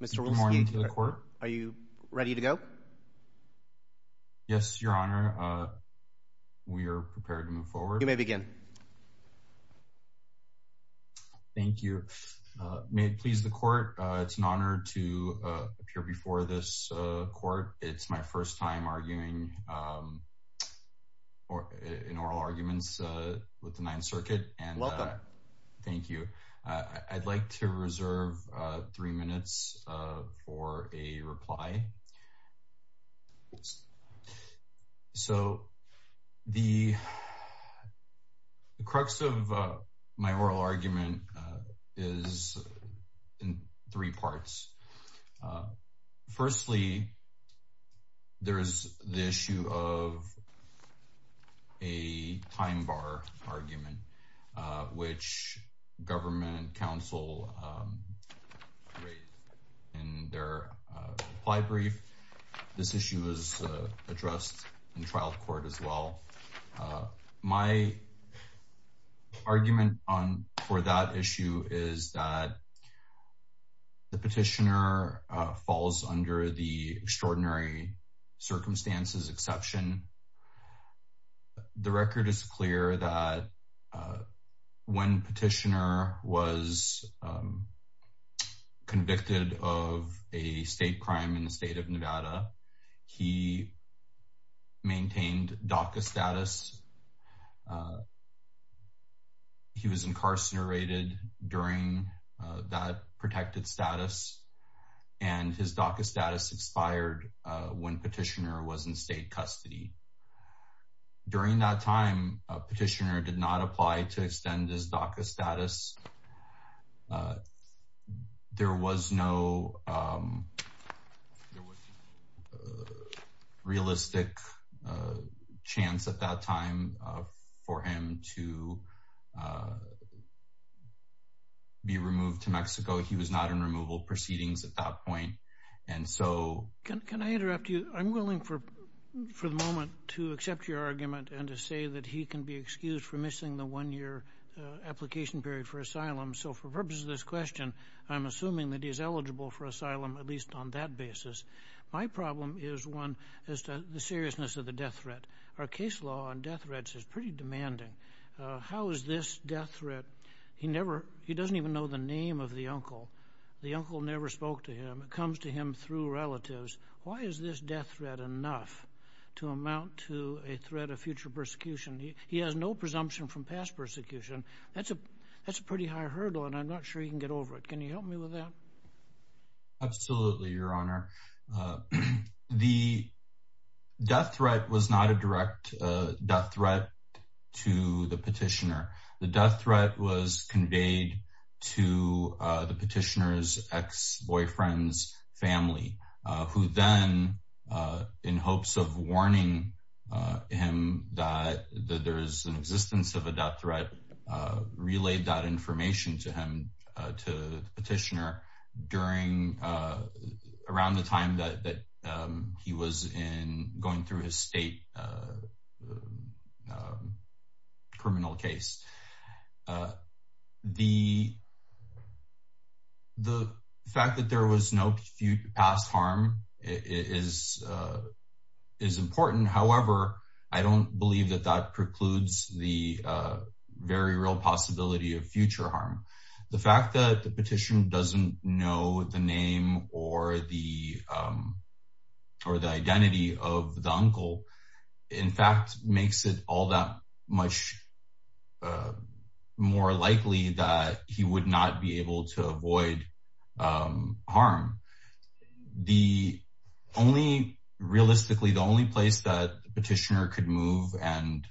Good morning to the Court. Are you ready to go? Yes, Your Honor. We are prepared to move forward. You may begin. Thank you. May it please the Court, it's an honor to appear before this Court. It's my first time arguing in oral arguments with the Ninth Circuit. Welcome. Thank you. I'd like to reserve three minutes for a reply. Okay. So, the crux of my oral argument is in three parts. Firstly, there is the issue of a time bar argument, which government counsel rate in their reply brief. This issue is addressed in trial court as well. My argument for that issue is that the petitioner falls under the extraordinary circumstances exception. The record is clear that when petitioner was convicted of a state crime in the state of Nevada, he maintained DACA status. He was incarcerated during that protected status and his DACA status expired when petitioner was in state custody. During that time, petitioner did not apply to extend his DACA status. There was no realistic chance at that time for him to be removed to Mexico. He was not in removal proceedings at that point. Can I interrupt you? I'm willing for the moment to accept your argument and to say that he can be excused for missing the one-year application period for asylum. So, for purpose of this question, I'm assuming that he's eligible for asylum at least on that basis. My problem is the seriousness of the death threat. Our case law on death threats is pretty demanding. How is this death threat? He doesn't even know the name of the uncle. The uncle never spoke to him. It comes to him through relatives. Why is this death threat enough to amount to a threat of future persecution? He has no presumption from past persecution. That's a pretty high hurdle and I'm not sure he can get over it. Can you help me with that? Absolutely, your honor. The death threat was not a direct death threat to the petitioner. The death threat was conveyed to the petitioner's ex-boyfriend's family, who then, in hopes of warning him that there's an existence of a death threat, relayed that information to him, to the petitioner, around the time that he was going through his state criminal case. The fact that there was no past harm is important. However, I don't believe that that precludes the very real possibility of future harm. The fact that the petitioner doesn't know the name or the identity of the uncle, in fact, makes it all that much more likely that he would not be able to avoid harm. Realistically, the only place that the petitioner could move and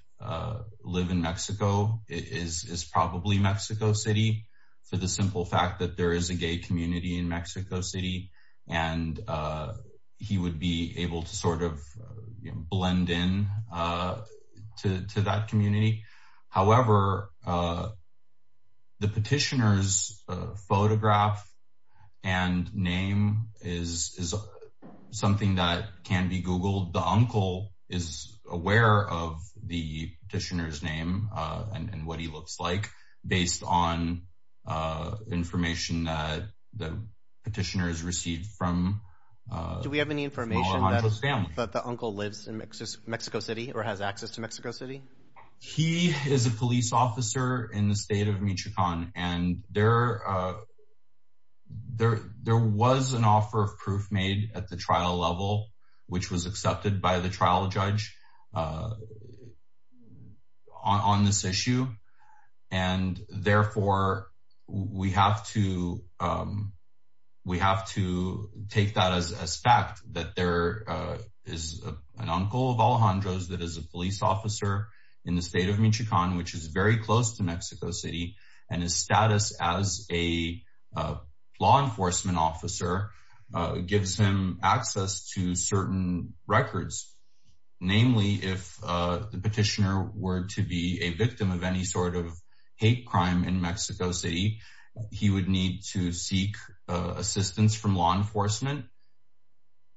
live in Mexico is probably Mexico City, for the simple fact that there is a gay community in Mexico City and he would be able to sort of blend in to that community. However, the petitioner's photograph and name is something that can be Googled. The uncle is aware of the petitioner's name and what he looks like, based on information that the petitioner has received from his family. Do we have any information that the uncle lives in Mexico City or has access to Mexico City? He is a police officer in the state of Michoacan and there was an offer of proof made at the trial level, which was accepted by the trial judge on this issue. And therefore, we have to take that as fact, that there is an uncle of Alejandro's that is a police officer in the state of Michoacan, which is very close to Mexico City, and his status as a law enforcement officer gives him access to certain records. Namely, if the petitioner were to be a victim of any sort of hate crime in Mexico City, he would need to seek assistance from law enforcement.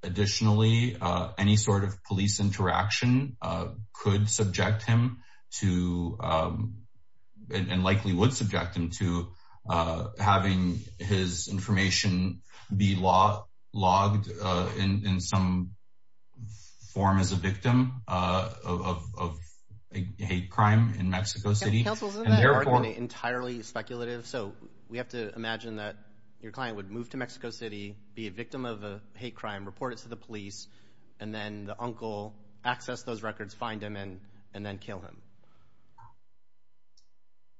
Additionally, any sort of police interaction could subject him to, and likely would subject him to, having his information be logged in some form as a victim of a crime in Mexico City. Counsel, isn't that argument entirely speculative? So, we have to imagine that your client would move to Mexico City, be a victim of a hate crime, report it to the police, and then the uncle access those records, find him, and then kill him.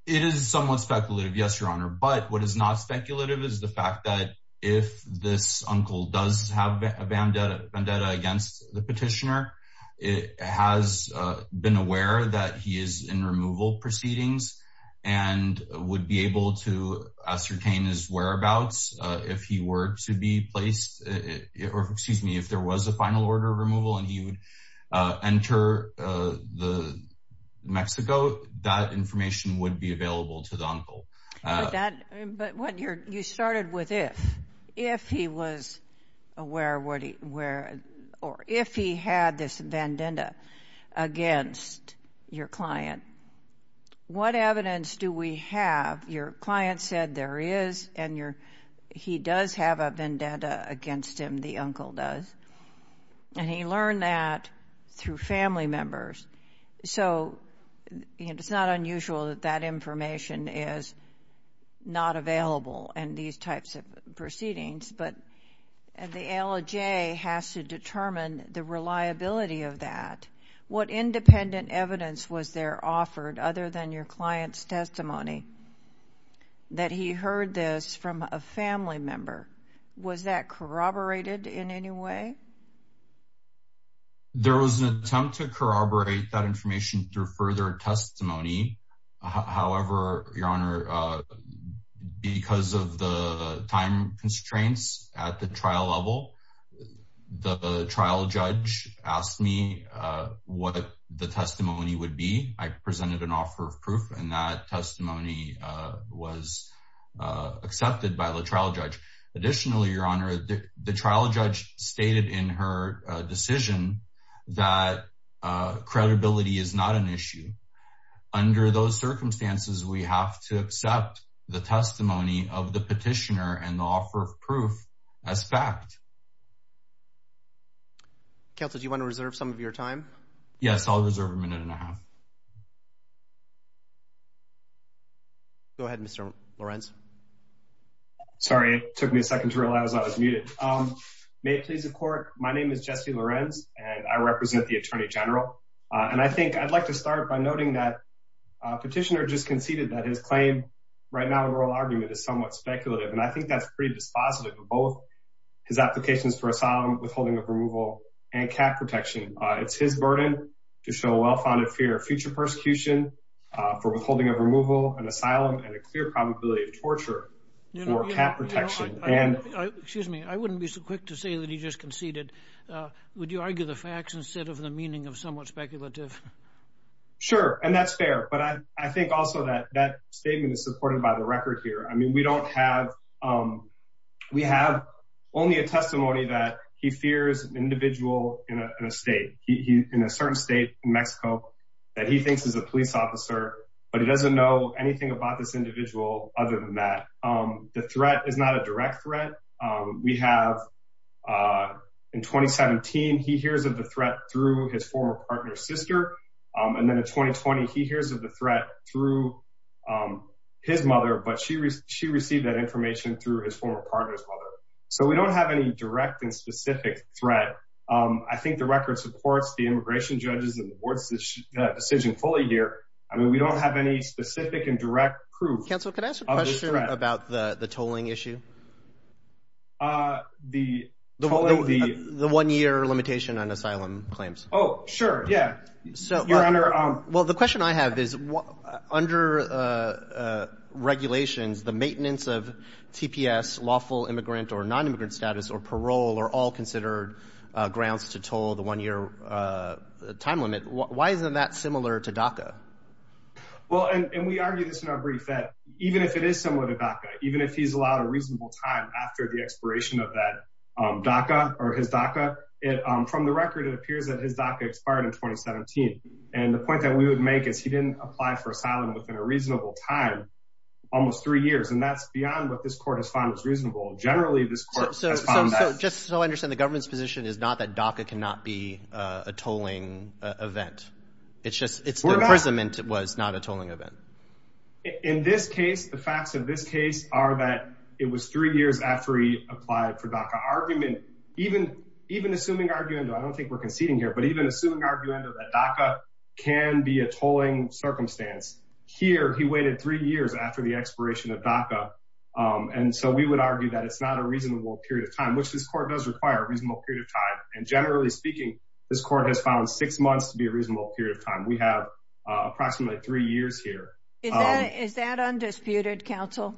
It is somewhat speculative, yes, your honor, but what is not speculative is the fact that if this uncle does have a vendetta against the petitioner, it has been aware that he is in removal proceedings and would be able to ascertain his whereabouts if he were to be placed, or excuse me, if there was a final order of removal, and he would enter Mexico, that information would be available to the uncle. But you started with if. If he was aware, or if he had this vendetta against your client, what evidence do we have? Your client said there is, and he does have a vendetta against him, the uncle does, and he learned that through family members. So, it's not unusual that that information is not available in these types of proceedings, but the ALJ has to determine the reliability of that. What independent evidence was there offered other than your client's testimony that he heard this from a family member? Was that corroborated in any way? There was an attempt to corroborate that information through further testimony. However, your honor, because of the time constraints at the trial level, the trial judge asked me what the testimony would be. I presented an offer of proof, and that testimony was accepted by the trial judge. Additionally, your honor, the trial judge stated in her decision that credibility is not an issue. Under those circumstances, we have to accept the testimony of the petitioner and the offer of proof as fact. Counsel, do you want to reserve some of your time? Yes, I'll reserve a minute and a half. Go ahead, Mr. Lorenz. Sorry, it took me a second to realize I was muted. May it please the court, my name is Jesse Lorenz, and I represent the Attorney General. And I think I'd like to start by noting that petitioner just conceded that his claim right now in oral argument is somewhat speculative, and I think that's pretty dispositive of both his applications for asylum, withholding of removal, and cap protection. It's his burden to show a well-founded fear of future persecution, for withholding of removal and asylum, and a clear probability of torture for cap protection. Excuse me, I wouldn't be so quick to say that he just conceded. Would you argue the facts instead of the meaning of somewhat speculative? Sure, and that's fair. But I think also that that statement is supported by the record here. I mean, we don't have, we have only a testimony that he fears an individual in a state, in a certain state in Mexico, that he thinks is a police officer, but he doesn't know anything about this individual other than that. The threat is not a direct threat. We have, in 2017, he hears of the threat through his former partner's sister. And then in 2020, he hears of the threat through his mother, but she received that information through his former partner's mother. So we don't have any direct and specific threat. But I think the record supports the immigration judges and the board's decision fully here. I mean, we don't have any specific and direct proof of this threat. Counsel, can I ask a question about the tolling issue? The tolling, the... The one-year limitation on asylum claims. Oh, sure, yeah. Your Honor... Grounds to toll the one-year time limit. Why isn't that similar to DACA? Well, and we argue this in our brief, that even if it is similar to DACA, even if he's allowed a reasonable time after the expiration of that DACA or his DACA, from the record, it appears that his DACA expired in 2017. And the point that we would make is he didn't apply for asylum within a reasonable time, almost three years. And that's beyond what this court has found is reasonable. Generally, this court has found that... Just so I understand, the government's position is not that DACA cannot be a tolling event. It's just... We're not... It's the imprisonment was not a tolling event. In this case, the facts of this case are that it was three years after he applied for DACA. Argument, even assuming arguendo, I don't think we're conceding here, but even assuming arguendo that DACA can be a tolling circumstance, here, he waited three years after the expiration of DACA. And so we would argue that it's not a reasonable period of time, which this court does require a reasonable period of time. And generally speaking, this court has found six months to be a reasonable period of time. We have approximately three years here. Is that undisputed, counsel?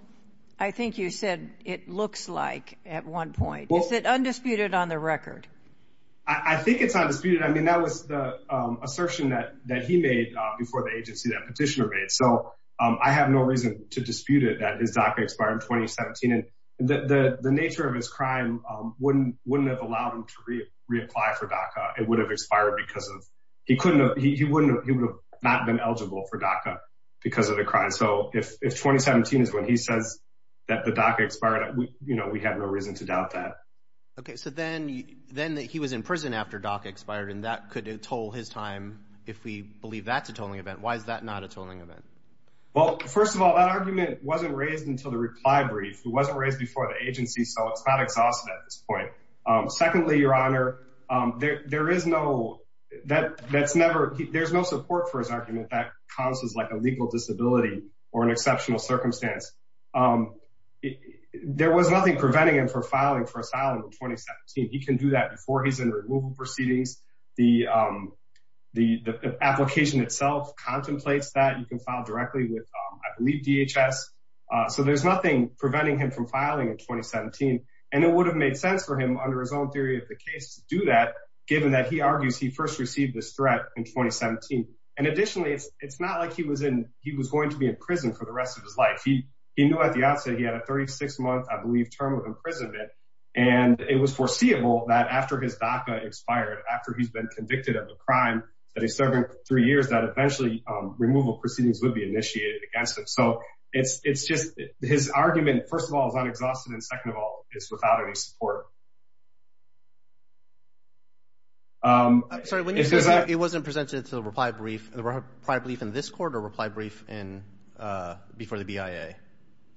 I think you said it looks like at one point. Is it undisputed on the record? I think it's undisputed. I mean, that was the assertion that he made before the agency, that petitioner made. So I have no reason to dispute it, that his DACA expired in 2017. And the nature of his crime wouldn't have allowed him to reapply for DACA. It would have expired because of... He would have not been eligible for DACA because of the crime. So if 2017 is when he says that the DACA expired, we have no reason to doubt that. Okay. So then he was in prison after DACA expired, and that could toll his time, if we believe that's a tolling event. Why is that not a tolling event? Well, first of all, that argument wasn't raised until the reply brief. It wasn't raised before the agency, so it's not exhausted at this point. Secondly, Your Honor, there is no... There's no support for his argument that counts as a legal disability or an exceptional circumstance. There was nothing preventing him from filing for asylum in 2017. He can do that before he's in removal proceedings. The application itself contemplates that. You can file directly with, I believe, DHS. So there's nothing preventing him from filing in 2017. And it would have made sense for him, under his own theory of the case, to do that, given that he argues he first received this threat in 2017. And additionally, it's not like he was in... He was going to be in prison for the rest of his life. He knew at the outset he had a 36-month, I believe, term of imprisonment. And it was foreseeable that after his DACA expired, after he's been convicted of a crime that he's serving for three years, that eventually removal proceedings would be initiated against him. So it's just... His argument, first of all, is unexhausted, and second of all, it's without any support. I'm sorry, when you say it wasn't presented to the reply brief, the reply brief in this court or reply brief before the BIA?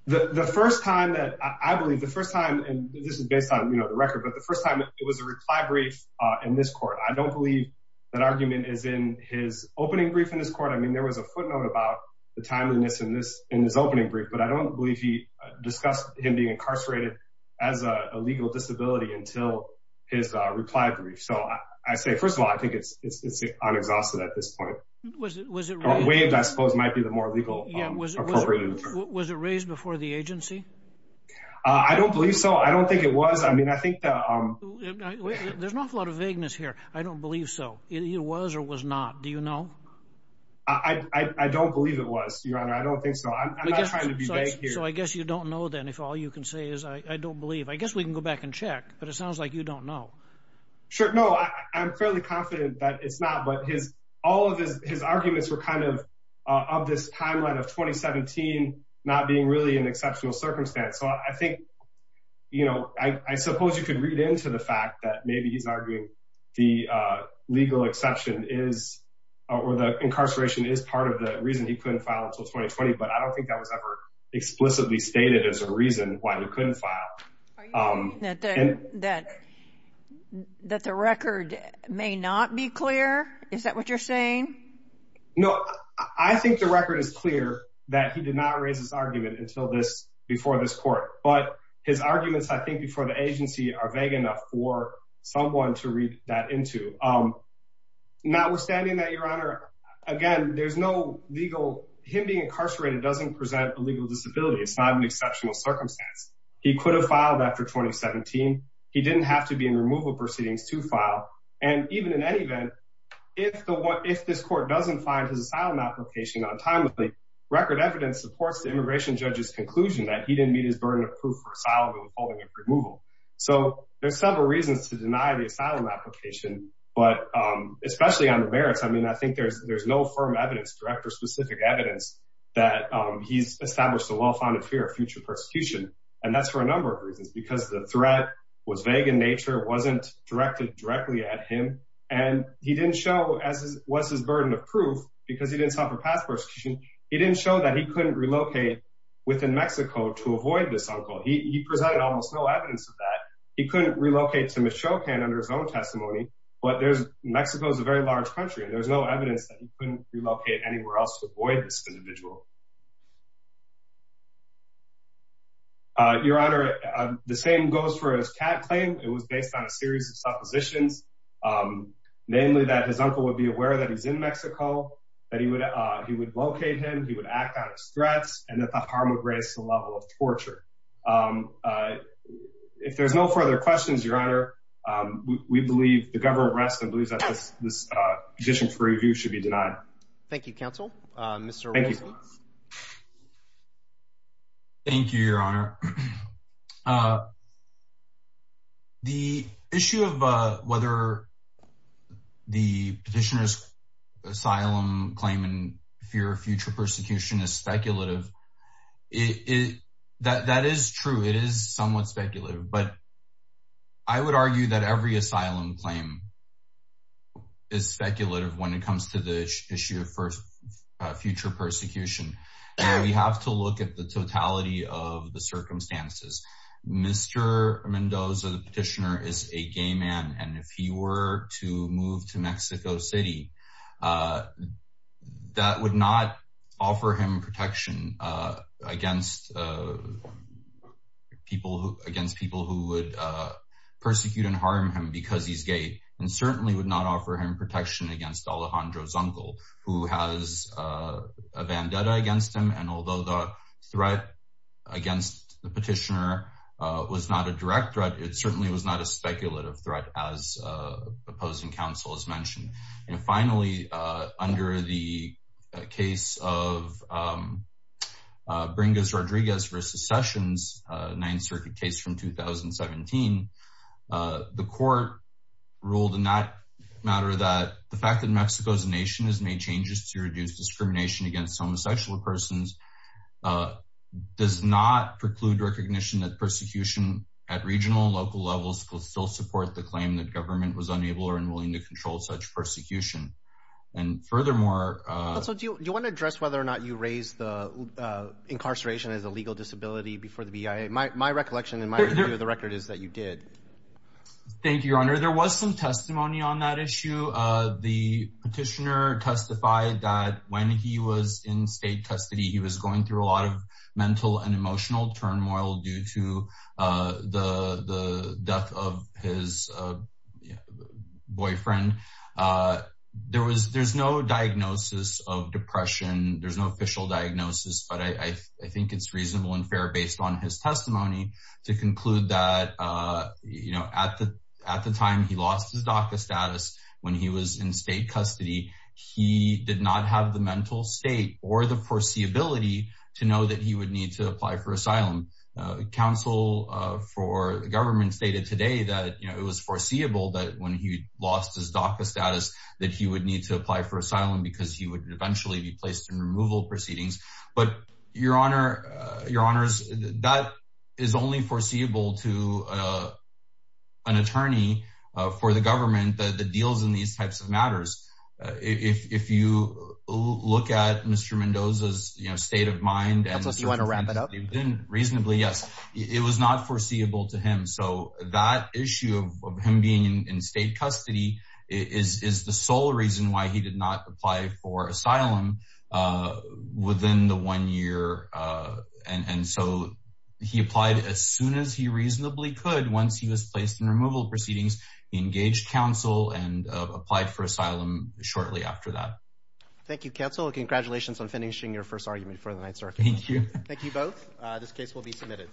The first time that... I believe the first time, and this is based on the record, but the first time it was a reply brief in this court. I don't believe that argument is in his opening brief in this court. I mean, there was a footnote about the timeliness in his opening brief, but I don't believe he discussed him being incarcerated as a legal disability until his reply brief. So I say, first of all, I think it's unexhausted at this point. Was it raised? Waved, I suppose, might be the more legal appropriate term. Was it raised before the agency? I don't believe so. I don't think it was. I mean, I think... There's an awful lot of vagueness here. I don't believe so. It was or was not. Do you know? I don't believe it was, Your Honor. I don't think so. I'm not trying to be vague here. So I guess you don't know, then, if all you can say is, I don't believe. I guess we can go back and check, but it sounds like you don't know. Sure. No, I'm fairly confident that it's not, but all of his arguments were kind of of this timeline of 2017 not being really an exceptional circumstance. So I think, you know, I suppose you could read into the fact that maybe he's arguing the legal exception is or the incarceration is part of the reason he couldn't file until 2020. But I don't think that was ever explicitly stated as a reason why he couldn't file. Are you saying that the record may not be clear? Is that what you're saying? No, I think the record is clear that he did not raise his argument until this before this court. But his arguments, I think, before the agency are vague enough for someone to read that into. Notwithstanding that, Your Honor, again, there's no legal... Him being incarcerated doesn't present a legal disability. It's not an exceptional circumstance. He could have filed after 2017. He didn't have to be in removal proceedings to file. And even in any event, if this court doesn't find his asylum application untimely, record evidence supports the immigration judge's conclusion that he didn't meet his burden of proof for asylum and holding of removal. So there's several reasons to deny the asylum application. But especially on the merits, I mean, I think there's no firm evidence, direct or specific evidence that he's established a well-founded fear of future persecution. And that's for a number of reasons, because the threat was vague in nature, wasn't directed directly at him. And he didn't show, as was his burden of proof, because he didn't sign for past persecution. He didn't show that he couldn't relocate within Mexico to avoid this uncle. He presented almost no evidence of that. He couldn't relocate to Michoacan under his own testimony. But Mexico is a very large country, and there's no evidence that he couldn't relocate anywhere else to avoid this individual. Your Honor, the same goes for his CAT claim. It was based on a series of suppositions, namely that his uncle would be aware that he's in Mexico, that he would locate him, he would act on his threats, and that the harm would raise to the level of torture. If there's no further questions, Your Honor, we believe the government rests and believes that this petition for review should be denied. Thank you. Thank you, Your Honor. The issue of whether the petitioner's asylum claim in fear of future persecution is speculative, that is true. It is somewhat speculative, but I would argue that every asylum claim is speculative when it comes to the issue of future persecution. We have to look at the totality of the circumstances. Mr. Mendoza, the petitioner, is a gay man. And if he were to move to Mexico City, that would not offer him protection against people who would persecute and harm him because he's gay, and certainly would not offer him protection against Alejandro's uncle, who has a vendetta against him. And although the threat against the petitioner was not a direct threat, it certainly was not a speculative threat, as opposing counsel has mentioned. And finally, under the case of Bringas-Rodriguez v. Sessions, Ninth Circuit case from 2017, the court ruled in that matter that the fact that Mexico as a nation has made changes to reduce discrimination against homosexual persons does not preclude recognition that persecution at regional and local levels will still support the claim that government was unable or unwilling to control such persecution. And furthermore... Also, do you want to address whether or not you raised the incarceration as a legal disability before the BIA? My recollection and my view of the record is that you did. Thank you, Your Honor. There was some testimony on that issue. The petitioner testified that when he was in state custody, he was going through a lot of mental and emotional turmoil due to the death of his boyfriend. There's no diagnosis of depression. There's no official diagnosis. But I think it's reasonable and fair, based on his testimony, to conclude that at the time he lost his DACA status, when he was in state custody, he did not have the mental state or the foreseeability to know that he would need to apply for asylum. Counsel for the government stated today that it was foreseeable that when he lost his DACA status that he would need to apply for asylum because he would eventually be placed in removal proceedings. But, Your Honor, that is only foreseeable to an attorney for the government that deals in these types of matters. If you look at Mr. Mendoza's state of mind... You want to wrap it up? Yes. It was not foreseeable to him. So that issue of him being in state custody is the sole reason why he did not apply for asylum within the one year. And so he applied as soon as he reasonably could. Once he was placed in removal proceedings, he engaged counsel and applied for asylum shortly after that. Thank you, Counsel. Congratulations on finishing your first argument for the night, sir. Thank you. Thank you both. This case will be submitted.